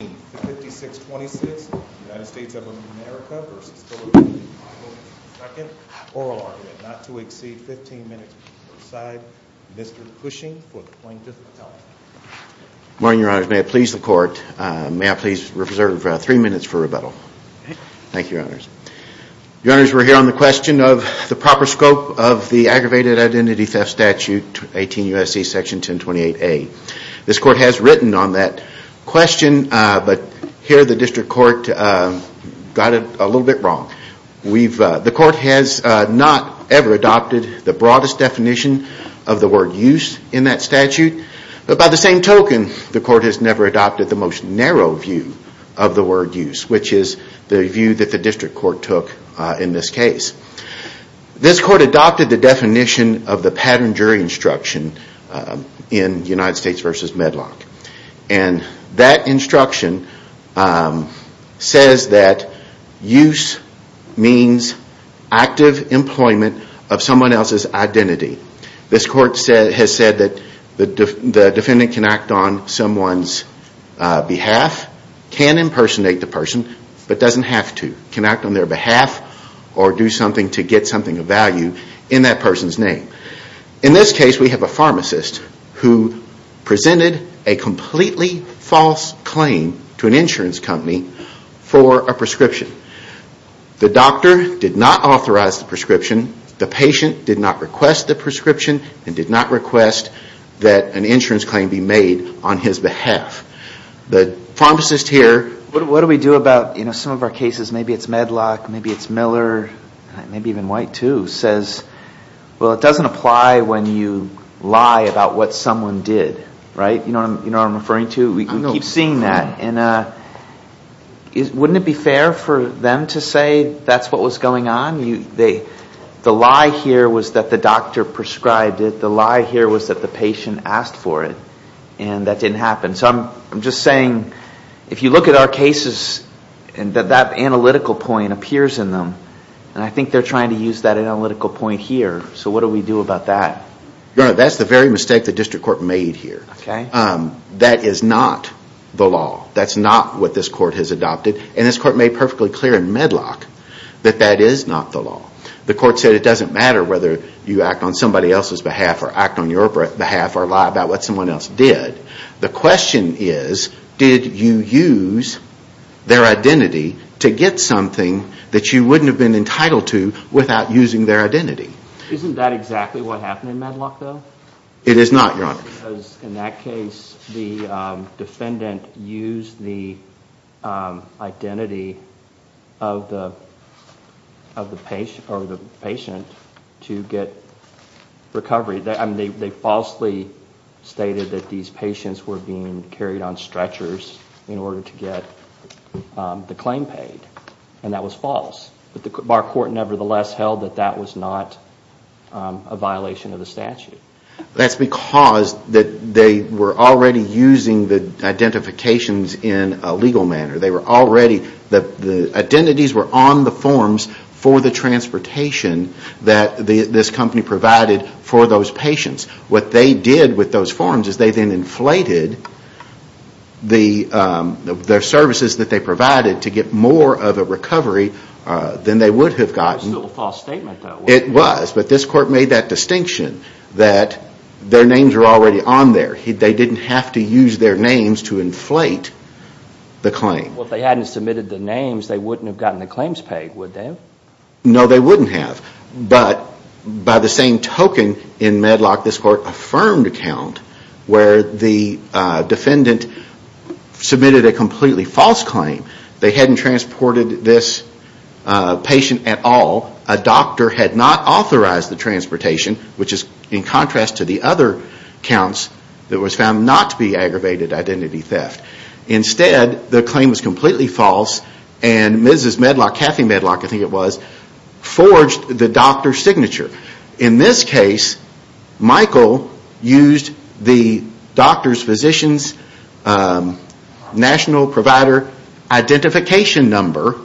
5626, United States of America v. Philip Michael II, oral argument not to exceed 15 minutes per side. Mr. Cushing for the plaintiff's attorney. Good morning, your honors. May I please the court, may I please reserve three minutes for rebuttal. Thank you, your honors. Your honors, we're here on the question of the proper scope of the Aggravated Identity Theft Statute 18 U.S.C. Section 1028A. This court has written on that question, but here the district court got it a little bit wrong. The court has not ever adopted the broadest definition of the word use in that statute. But by the same token, the court has never adopted the most narrow view of the word use, which is the view that the district court took in this case. This court adopted the definition of the pattern jury instruction in United States v. Medlock. And that instruction says that use means active employment of someone else's identity. This court has said that the defendant can act on someone's behalf, can impersonate the person, but doesn't have to. Can act on their behalf or do something to get something of value in that person's name. In this case, we have a pharmacist who presented a completely false claim to an insurance company for a prescription. The doctor did not authorize the prescription, the patient did not request the prescription, and did not request that an insurance claim be made on his behalf. The pharmacist here, what do we do about some of our cases, maybe it's Medlock, maybe it's Miller, maybe even White too, says, well, it doesn't apply when you lie about what someone did, right? You know what I'm referring to? We keep seeing that. And wouldn't it be fair for them to say that's what was going on? The lie here was that the doctor prescribed it. The lie here was that the patient asked for it. And that didn't happen. So I'm just saying, if you look at our cases, that analytical point appears in them. And I think they're trying to use that analytical point here. So what do we do about that? That's the very mistake the district court made here. That is not the law. That's not what this court has adopted. And this court made perfectly clear in Medlock that that is not the law. The court said it doesn't matter whether you act on somebody else's behalf or act on your behalf or lie about what someone else did. The question is, did you use their identity to get something that you wouldn't have been entitled to without using their identity? Isn't that exactly what happened in Medlock though? It is not, Your Honor. Because in that case, the defendant used the identity of the patient to get recovery. They falsely stated that these patients were being carried on stretchers in order to get the claim paid. And that was false. But our court nevertheless held that that was not a violation of the statute. That's because they were already using the identifications in a legal manner. They were already, the identities were on the forms for the transportation that this company provided for those patients. What they did with those forms is they then inflated the services that they provided to get more of a recovery than they would have gotten. That's still a false statement though. It was. But this court made that distinction that their names were already on there. They didn't have to use their names to inflate the claim. Well, if they hadn't submitted the names, they wouldn't have gotten the claims paid, would they? No, they wouldn't have. But by the same token in Medlock, this court affirmed a count where the defendant submitted a completely false claim. They hadn't transported this patient at all. A doctor had not authorized the transportation, which is in contrast to the other counts that was found not to be aggravated identity theft. Instead, the claim was completely false and Mrs. Medlock, Kathy Medlock, I think it was, forged the doctor's signature. In this case, Michael used the doctor's physician's national provider identification number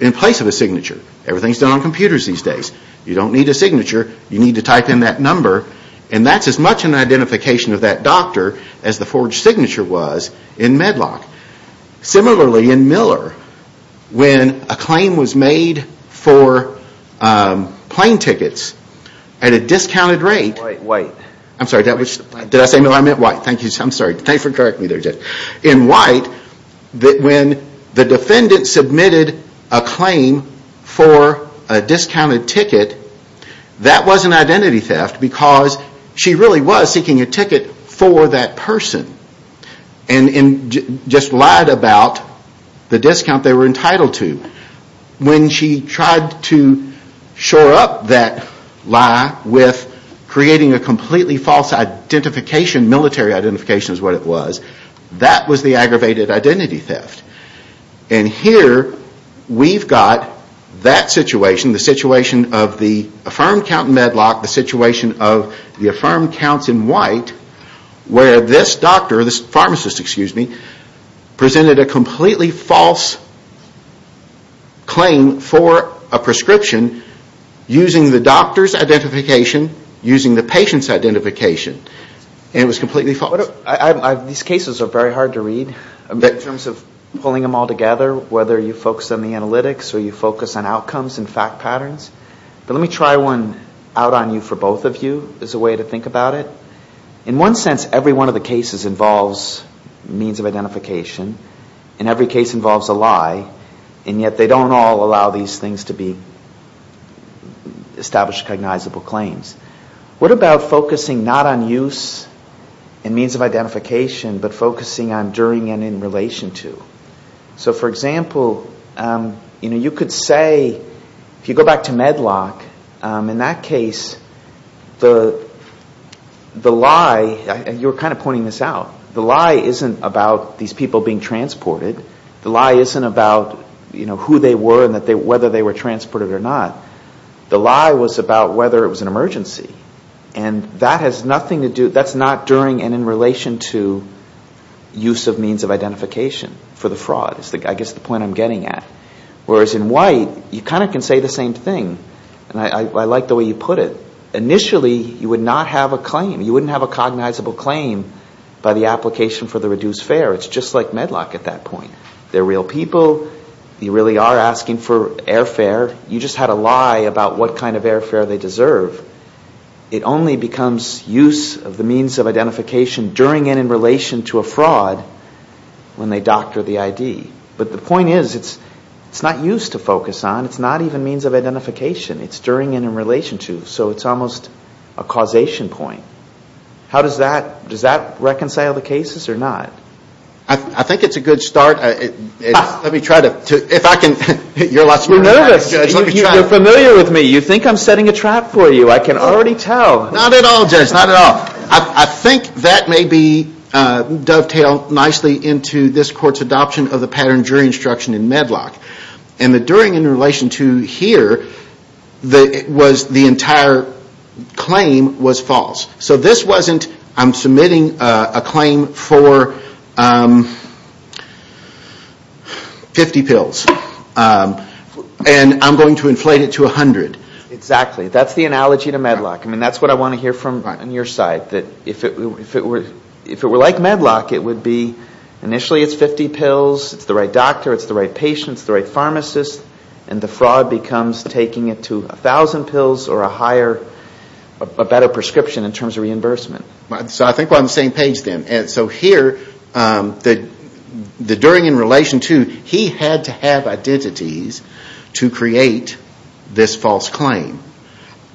in place of a signature. Everything is done on computers these days. You don't need a signature. You need to type in that number. And that's as much an identification of that doctor as the forged signature was in Medlock. Similarly, in Miller, when a claim was made for plane tickets at a discounted rate. White. I'm sorry, did I say Miller? I meant White. Thank you. I'm sorry. Thanks for correcting me there, Judge. In White, when the defendant submitted a claim for a discounted ticket, that wasn't identity theft because she really was seeking a ticket for that person. And just lied about the discount they were entitled to. When she tried to shore up that lie with creating a completely false identification, military identification is what it was, that was the aggravated identity theft. And here, we've got that situation, the situation of the affirmed Count Medlock, the situation of the affirmed Counts in White, where this doctor, this pharmacist, excuse me, presented a completely false claim for a prescription using the doctor's identification, using the patient's identification. And it was completely false. These cases are very hard to read in terms of pulling them all together, whether you focus on the analytics or you focus on outcomes and fact patterns. But let me try one out on you for both of you as a way to think about it. In one sense, every one of the cases involves means of identification. And every case involves a lie. And yet, they don't all allow these things to be established cognizable claims. What about focusing not on use and means of identification, but focusing on during and in relation to? So, for example, you know, you could say, if you go back to Medlock, in that case, the lie, and you were kind of pointing this out, the lie isn't about these people being transported. The lie isn't about, you know, who they were and whether they were transported or not. The lie was about whether it was an emergency. And that has nothing to do, that's not during and in relation to use of means of identification for the fraud is, I guess, the point I'm getting at. Whereas in White, you kind of can say the same thing. And I like the way you put it. Initially, you would not have a claim. You wouldn't have a cognizable claim by the application for the reduced fare. It's just like Medlock at that point. They're real people. You really are asking for airfare. You just had a lie about what kind of airfare they deserve. It only becomes use of the means of identification during and in relation to a fraud when they doctor the ID. But the point is, it's not use to focus on. It's not even means of identification. It's during and in relation to. So it's almost a causation point. How does that, does that reconcile the cases or not? I think it's a good start. Let me try to, if I can. You're a lot smarter than I am, Judge. You're familiar with me. You think I'm setting a trap for you. I can already tell. Not at all, Judge. Not at all. I think that may be dovetailed nicely into this court's adoption of the pattern jury instruction in Medlock. And the during and in relation to here, the entire claim was false. So this wasn't, I'm submitting a claim for 50 pills. And I'm going to inflate it to 100. Exactly. That's the analogy to Medlock. I mean, that's what I want to hear from your side. That if it were like Medlock, it would be initially it's 50 pills, it's the right doctor, it's the right patient, it's the right pharmacist. And the fraud becomes taking it to 1,000 pills or a higher, a better prescription in terms of reimbursement. So I think we're on the same page then. So here, the during and relation to, he had to have identities to create this false claim.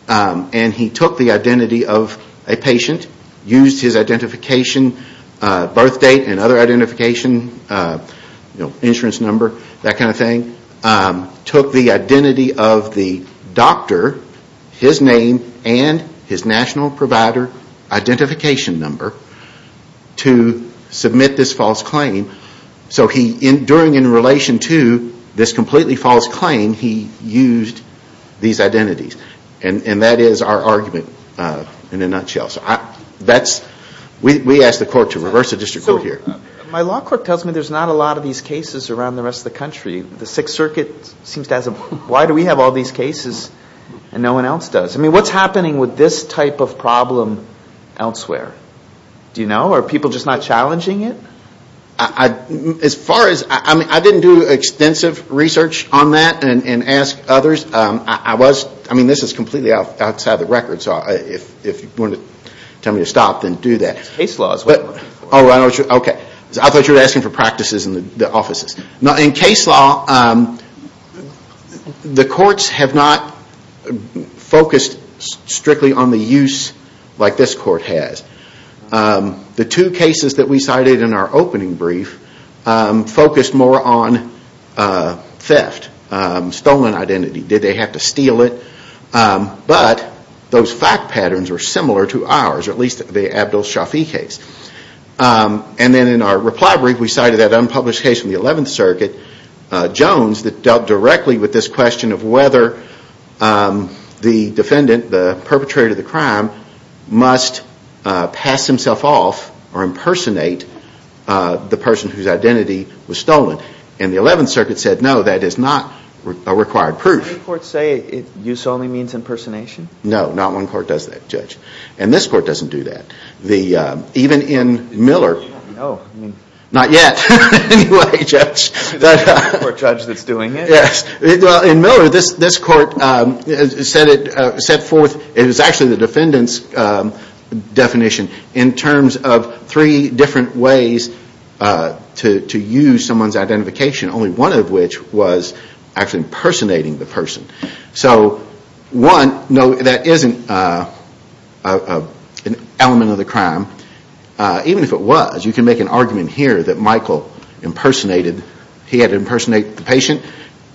And he took the identity of a patient, used his identification, birth date and other identification, you know, insurance number, that kind of thing. And took the identity of the doctor, his name, and his national provider identification number to submit this false claim. So he, during and in relation to this completely false claim, he used these identities. And that is our argument in a nutshell. So that's, we ask the court to reverse the district court here. My law court tells me there's not a lot of these cases around the rest of the country. The Sixth Circuit seems to ask, why do we have all these cases and no one else does? I mean, what's happening with this type of problem elsewhere? Do you know? Are people just not challenging it? As far as, I mean, I didn't do extensive research on that and ask others. I was, I mean, this is completely outside the record. So if you want to tell me to stop, then do that. It's case law. Oh, okay. I thought you were asking for practices in the offices. In case law, the courts have not focused strictly on the use like this court has. The two cases that we cited in our opening brief focused more on theft. Stolen identity. Did they have to steal it? But those fact patterns are similar to ours, at least the Abdul Shafi case. And then in our reply brief, we cited that unpublished case from the Eleventh Circuit, Jones, that dealt directly with this question of whether the defendant, the perpetrator of the crime, must pass himself off or impersonate the person whose identity was stolen. And the Eleventh Circuit said, no, that is not a required proof. Did any courts say use only means impersonation? No, not one court does that, Judge. And this court doesn't do that. Even in Miller, not yet anyway, Judge. The court judge that's doing it? Yes. In Miller, this court set forth, it was actually the defendant's definition, in terms of three different ways to use someone's identification, only one of which was actually impersonating the person. So one, no, that isn't an element of the crime. Even if it was, you can make an argument here that Michael impersonated, he had to impersonate the patient,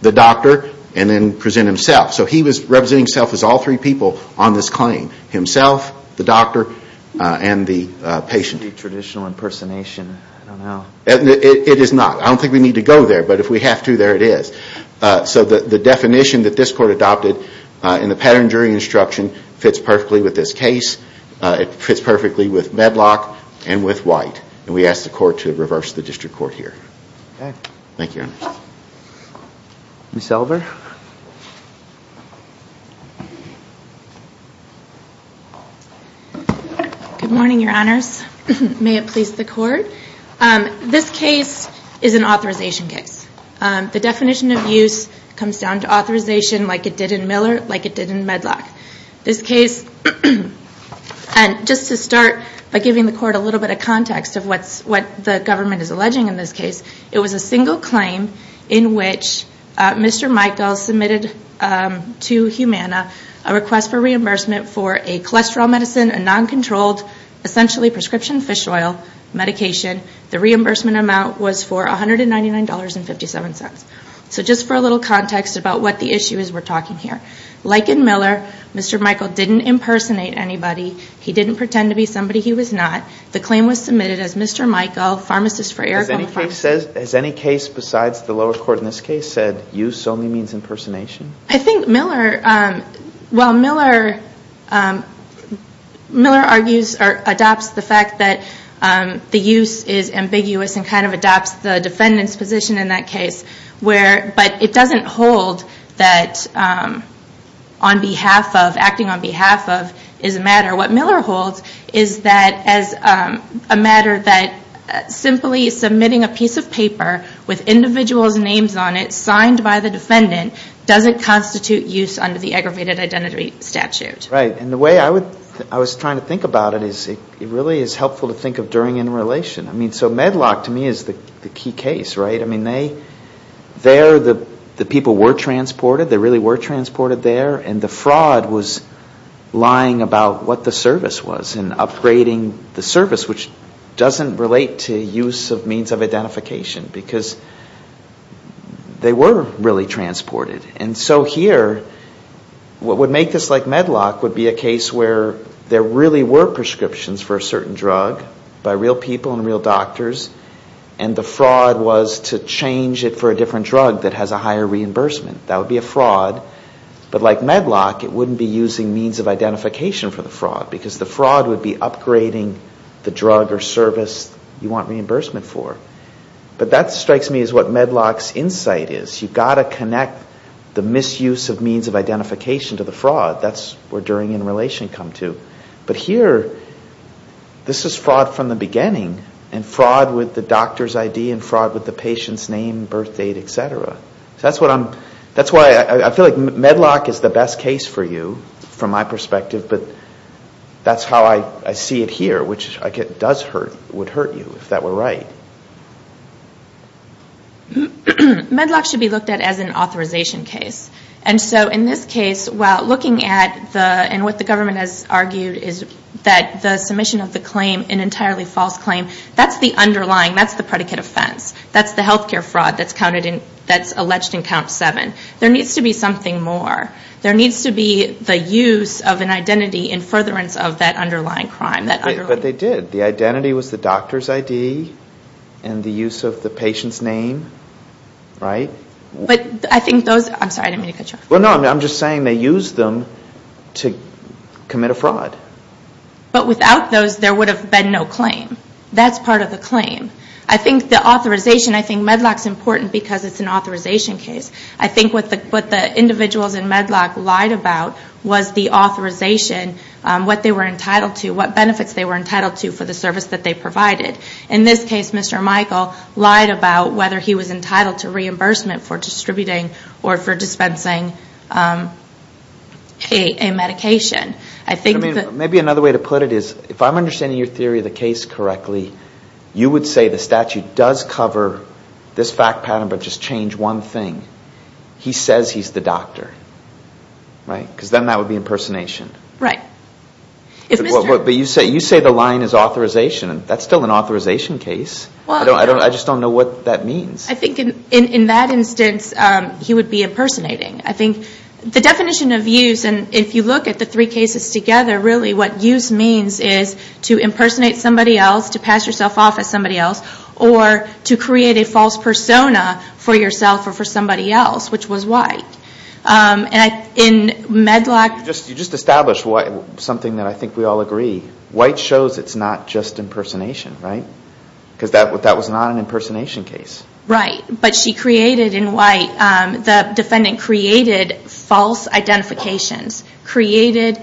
the doctor, and then present himself. So he was representing himself as all three people on this claim, himself, the doctor, and the patient. Traditional impersonation, I don't know. It is not. I don't think we need to go there. But if we have to, there it is. So the definition that this court adopted in the pattern jury instruction fits perfectly with this case. It fits perfectly with Medlock and with White. And we ask the court to reverse the district court here. Okay. Thank you, Your Honor. Ms. Elver. Good morning, Your Honors. May it please the Court. This case is an authorization case. The definition of use comes down to authorization like it did in Miller, like it did in Medlock. This case, and just to start by giving the court a little bit of context of what the government is alleging in this case, it was a single claim in which Mr. Michaels submitted to Humana a request for reimbursement for a cholesterol medicine, a non-controlled, essentially prescription fish oil medication. The reimbursement amount was for $199.57. So just for a little context about what the issue is we're talking here. Like in Miller, Mr. Michael didn't impersonate anybody. He didn't pretend to be somebody he was not. The claim was submitted as Mr. Michael, pharmacist for Aragon Pharmacy. Has any case besides the lower court in this case said use only means impersonation? I think Miller, while Miller argues or adopts the fact that the use is ambiguous and kind of adopts the defendant's position in that case, but it doesn't hold that acting on behalf of is a matter. What Miller holds is that as a matter that simply submitting a piece of paper with individual's names on it, signed by the defendant, doesn't constitute use under the aggravated identity statute. Right. And the way I was trying to think about it is it really is helpful to think of during interrelation. I mean, so Medlock to me is the key case, right? I mean, there the people were transported, they really were transported there, and the fraud was lying about what the service was and upgrading the service, which doesn't relate to use of means of identification. Because they were really transported. And so here, what would make this like Medlock would be a case where there really were prescriptions for a certain drug by real people and real doctors, and the fraud was to change it for a different drug that has a higher reimbursement. That would be a fraud. But like Medlock, it wouldn't be using means of identification for the fraud, because the fraud would be upgrading the drug or service you want reimbursement for. But that strikes me as what Medlock's insight is. You've got to connect the misuse of means of identification to the fraud. That's where during interrelation come to. But here, this is fraud from the beginning, and fraud with the doctor's ID and fraud with the patient's name, birthdate, et cetera. That's why I feel like Medlock is the best case for you from my perspective, but that's how I see it here, which does hurt, would hurt you if that were right. Medlock should be looked at as an authorization case. And so in this case, while looking at the, and what the government has argued, is that the submission of the claim, an entirely false claim, that's the underlying, that's the predicate offense, that's the health care fraud that's counted in, that's alleged in count seven. There needs to be something more. There needs to be the use of an identity in furtherance of that underlying crime. But they did. The identity was the doctor's ID and the use of the patient's name, right? But I think those, I'm sorry, I didn't mean to cut you off. Well, no, I'm just saying they used them to commit a fraud. But without those, there would have been no claim. That's part of the claim. I think the authorization, I think Medlock's important because it's an authorization case. I think what the individuals in Medlock lied about was the authorization, what they were entitled to, what benefits they were entitled to for the service that they provided. In this case, Mr. Michael lied about whether he was entitled to reimbursement for distributing or for dispensing a medication. Maybe another way to put it is if I'm understanding your theory of the case correctly, you would say the statute does cover this fact pattern but just change one thing. He says he's the doctor, right? Because then that would be impersonation. Right. But you say the line is authorization. That's still an authorization case. I just don't know what that means. I think in that instance, he would be impersonating. I think the definition of use, and if you look at the three cases together, really what use means is to impersonate somebody else, to pass yourself off as somebody else, or to create a false persona for yourself or for somebody else, which was White. In Medlock... You just established something that I think we all agree. White shows it's not just impersonation, right? Because that was not an impersonation case. Right. But she created in White, the defendant created false identifications, created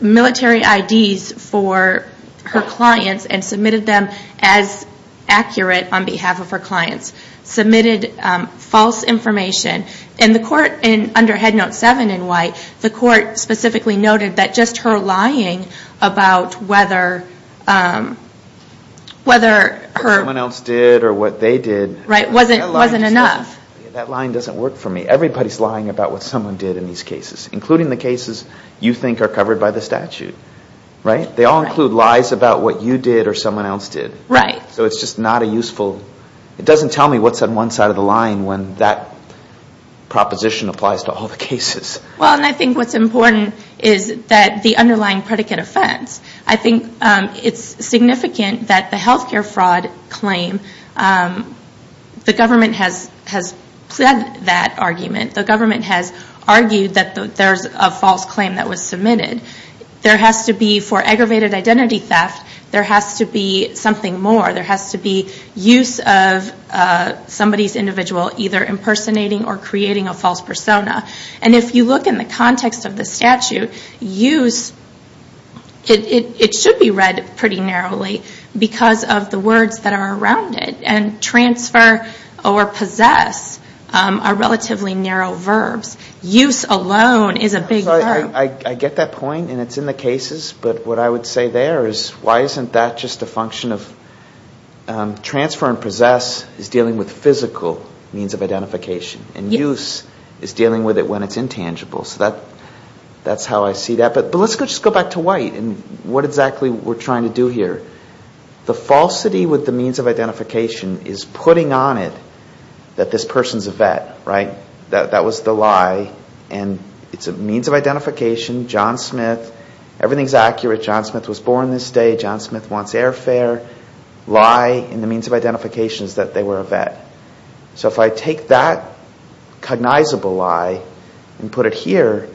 military IDs for her clients and submitted them as accurate on behalf of her clients, submitted false information, and under Head Note 7 in White, the court specifically noted that just her lying about whether her... What someone else did or what they did... Right, wasn't enough. That line doesn't work for me. Everybody's lying about what someone did in these cases, including the cases you think are covered by the statute, right? They all include lies about what you did or someone else did. Right. So it's just not a useful... It doesn't tell me what's on one side of the line when that proposition applies to all the cases. Well, and I think what's important is that the underlying predicate offense. I think it's significant that the healthcare fraud claim, the government has pled that argument. The government has argued that there's a false claim that was submitted. There has to be, for aggravated identity theft, there has to be something more. There has to be use of somebody's individual either impersonating or creating a false persona. And if you look in the context of the statute, use, it should be read pretty narrowly because of the words that are around it. And transfer or possess are relatively narrow verbs. Use alone is a big verb. I get that point, and it's in the cases. But what I would say there is why isn't that just a function of... Transfer and possess is dealing with physical means of identification. And use is dealing with it when it's intangible. So that's how I see that. But let's just go back to White and what exactly we're trying to do here. The falsity with the means of identification is putting on it that this person's a vet. That was the lie. And it's a means of identification. John Smith, everything's accurate. John Smith was born this day. John Smith wants airfare. Lie in the means of identification is that they were a vet. So if I take that cognizable lie and put it here,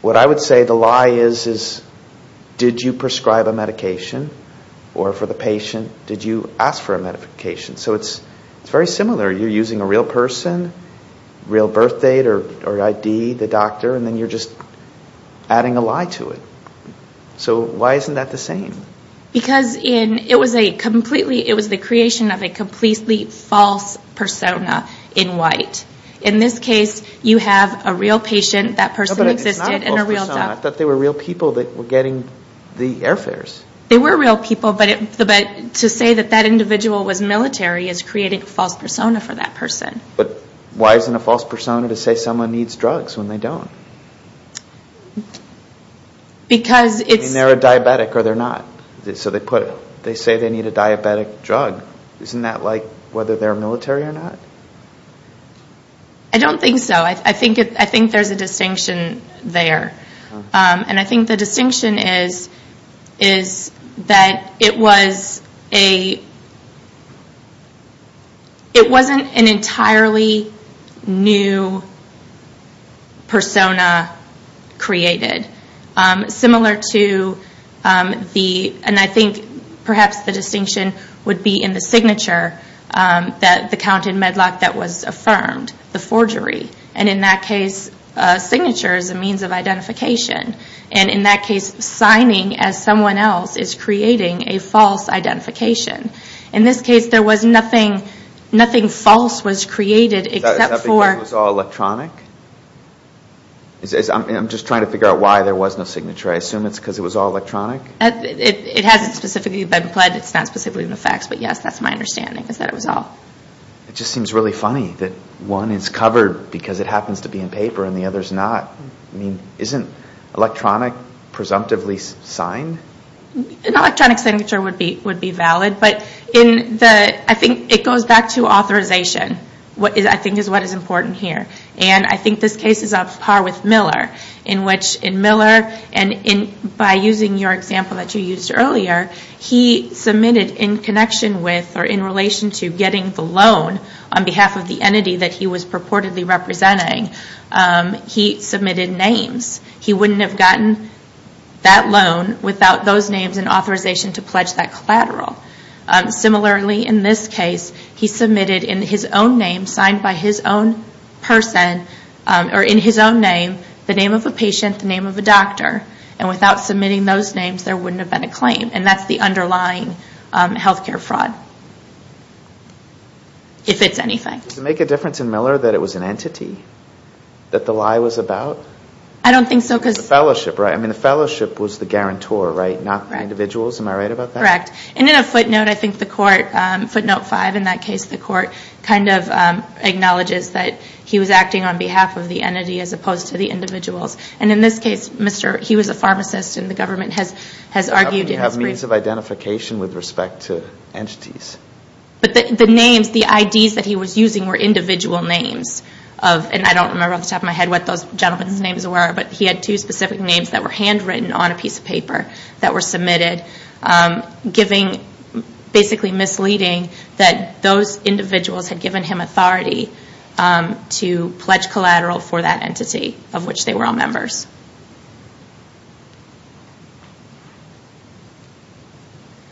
what I would say the lie is, is did you prescribe a medication? Or for the patient, did you ask for a medication? So it's very similar. You're using a real person, real birth date or ID, the doctor, and then you're just adding a lie to it. So why isn't that the same? Because it was the creation of a completely false persona in White. In this case, you have a real patient, that person existed, and a real doctor. But it's not a false persona. I thought they were real people that were getting the airfares. They were real people, but to say that that individual was military is creating a false persona for that person. But why isn't a false persona to say someone needs drugs when they don't? I mean, they're a diabetic or they're not. So they say they need a diabetic drug. Isn't that like whether they're military or not? I don't think so. I think there's a distinction there. And I think the distinction is that it wasn't an entirely new persona created, similar to the, and I think perhaps the distinction would be in the signature, the count in Medlock that was affirmed, the forgery. And in that case, signature is a means of identification. And in that case, signing as someone else is creating a false identification. In this case, there was nothing false was created except for... I'm just trying to figure out why there was no signature. I assume it's because it was all electronic? It hasn't specifically been pledged. It's not specifically in the facts, but yes, that's my understanding, is that it was all... It just seems really funny that one is covered because it happens to be in paper and the other's not. I mean, isn't electronic presumptively signed? An electronic signature would be valid. But I think it goes back to authorization, I think is what is important here. And I think this case is on par with Miller. In which in Miller, and by using your example that you used earlier, he submitted in connection with or in relation to getting the loan on behalf of the entity that he was purportedly representing, he submitted names. He wouldn't have gotten that loan without those names and authorization to pledge that collateral. Similarly, in this case, he submitted in his own name, signed by his own person, or in his own name, the name of a patient, the name of a doctor. And without submitting those names, there wouldn't have been a claim. And that's the underlying healthcare fraud. If it's anything. Does it make a difference in Miller that it was an entity that the lie was about? I don't think so because... The fellowship, right? I mean, the fellowship was the guarantor, right? Not the individuals, am I right about that? Correct. And in a footnote, I think the court, footnote five in that case, the court kind of acknowledges that he was acting on behalf of the entity as opposed to the individuals. And in this case, he was a pharmacist and the government has argued... Means of identification with respect to entities. But the names, the IDs that he was using were individual names. And I don't remember off the top of my head what those gentlemen's names were, but he had two specific names that were handwritten on a piece of paper that were submitted. Giving, basically misleading, that those individuals had given him authority to pledge collateral for that entity, of which they were all members.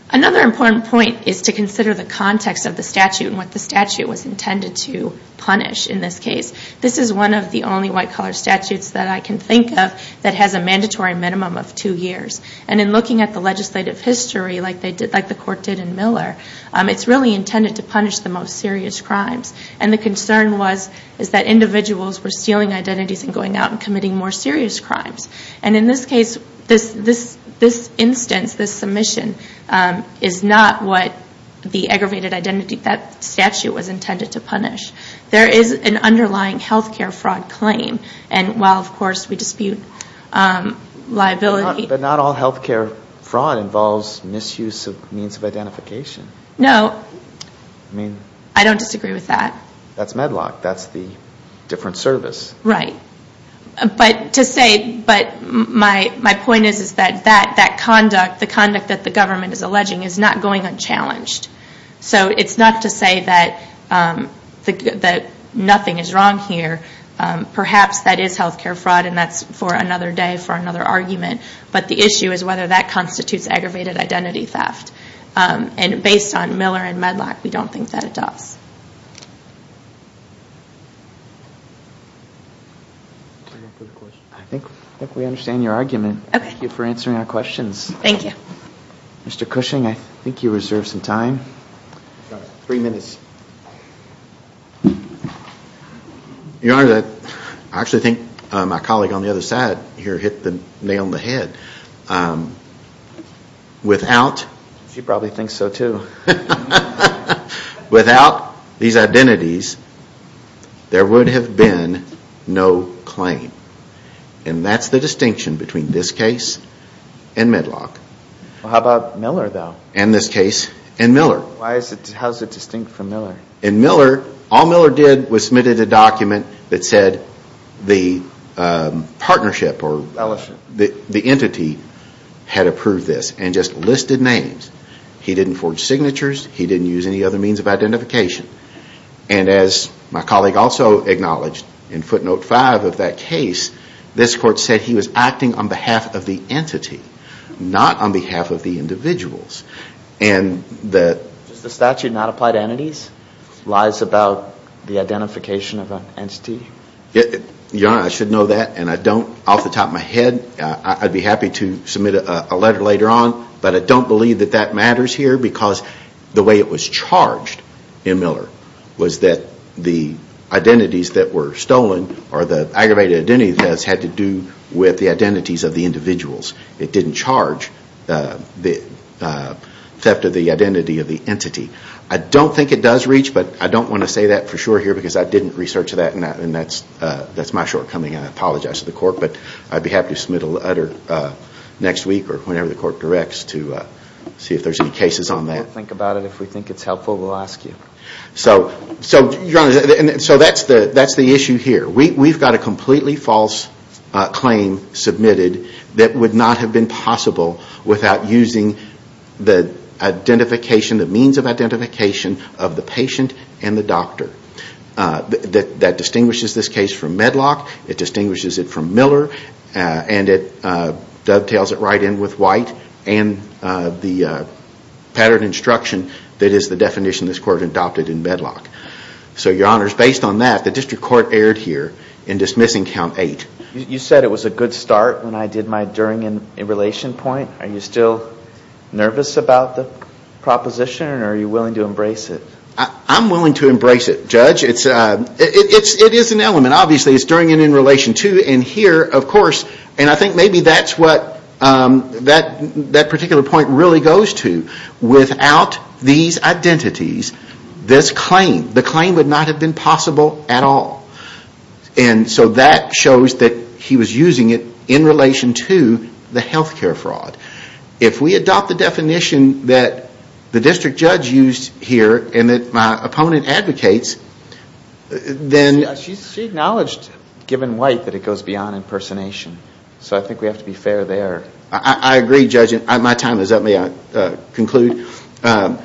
Another important point is to consider the context of the statute and what the statute was intended to punish in this case. This is one of the only white-collar statutes that I can think of that has a mandatory minimum of two years. And in looking at the legislative history, like the court did in Miller, it's really intended to punish the most serious crimes. And the concern was that individuals were stealing identities And so the statute was intended to punish the most serious crimes. And in this case, this instance, this submission, is not what the aggravated identity statute was intended to punish. There is an underlying health care fraud claim. And while, of course, we dispute liability... But not all health care fraud involves misuse of means of identification. No. I don't disagree with that. That's Medlock. That's the different service. Right. But my point is that the conduct that the government is alleging is not going unchallenged. So it's not to say that nothing is wrong here. Perhaps that is health care fraud, and that's for another day, for another argument. But the issue is whether that constitutes aggravated identity theft. And based on Miller and Medlock, we don't think that it does. I think we understand your argument. Thank you for answering our questions. Mr. Cushing, I think you reserve some time. Three minutes. Your Honor, I actually think my colleague on the other side here hit the nail on the head. Without... She probably thinks so, too. Without these identities, there would have been no claim. And that's the distinction between this case and Medlock. How about Miller, though? And this case and Miller. How is it distinct from Miller? All Miller did was submit a document that said the partnership or the entity had approved this and just listed names. He didn't forge signatures. He didn't use any other means of identification. And as my colleague also acknowledged in footnote 5 of that case, this court said he was acting on behalf of the entity, not on behalf of the individuals. Does the statute not apply to entities? Lies about the identification of an entity? Your Honor, I should know that. And off the top of my head, I'd be happy to submit a letter later on, but I don't believe that matters here because the way it was charged in Miller was that the identities that were stolen or the aggravated identity thefts had to do with the identities of the individuals. It didn't charge the theft of the identity of the entity. I don't think it does reach, but I don't want to say that for sure here because I didn't research that and that's my shortcoming. I apologize to the court, but I'd be happy to submit a letter next week or whenever the court directs to see if there's any cases on that. If we think it's helpful, we'll ask you. So that's the issue here. We've got a completely false claim submitted that would not have been possible without using the identification, the means of identification of the patient and the doctor. That distinguishes this case from Medlock. It distinguishes it from Miller and it dovetails it right in with White and the pattern instruction that is the definition this Court adopted in Medlock. So, Your Honors, based on that, the District Court erred here in dismissing Count 8. You said it was a good start when I did my during and in relation point. Are you still nervous about the proposition or are you willing to embrace it? I'm willing to embrace it, Judge. It is an element, obviously. It's during and in relation, too. I think maybe that's what that particular point really goes to. Without these identities, this claim, the claim would not have been possible at all. And so that shows that he was using it in relation to the health care fraud. If we adopt the definition that the District Judge used here and that my opponent advocates, then... She acknowledged, given White, that it goes beyond impersonation. So I think we have to be fair there. I agree, Judge. My time is up. May I conclude? My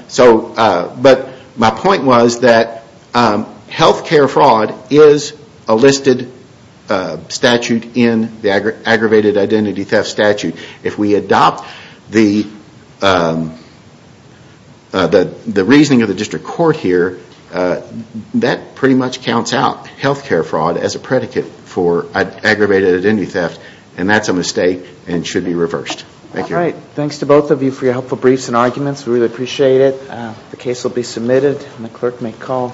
point was that health care fraud is a listed statute in the aggravated identity theft statute. If we adopt the reasoning of the District Court here, that pretty much counts out health care fraud as a predicate for All right. Thanks to both of you for your helpful briefs and arguments. We really appreciate it.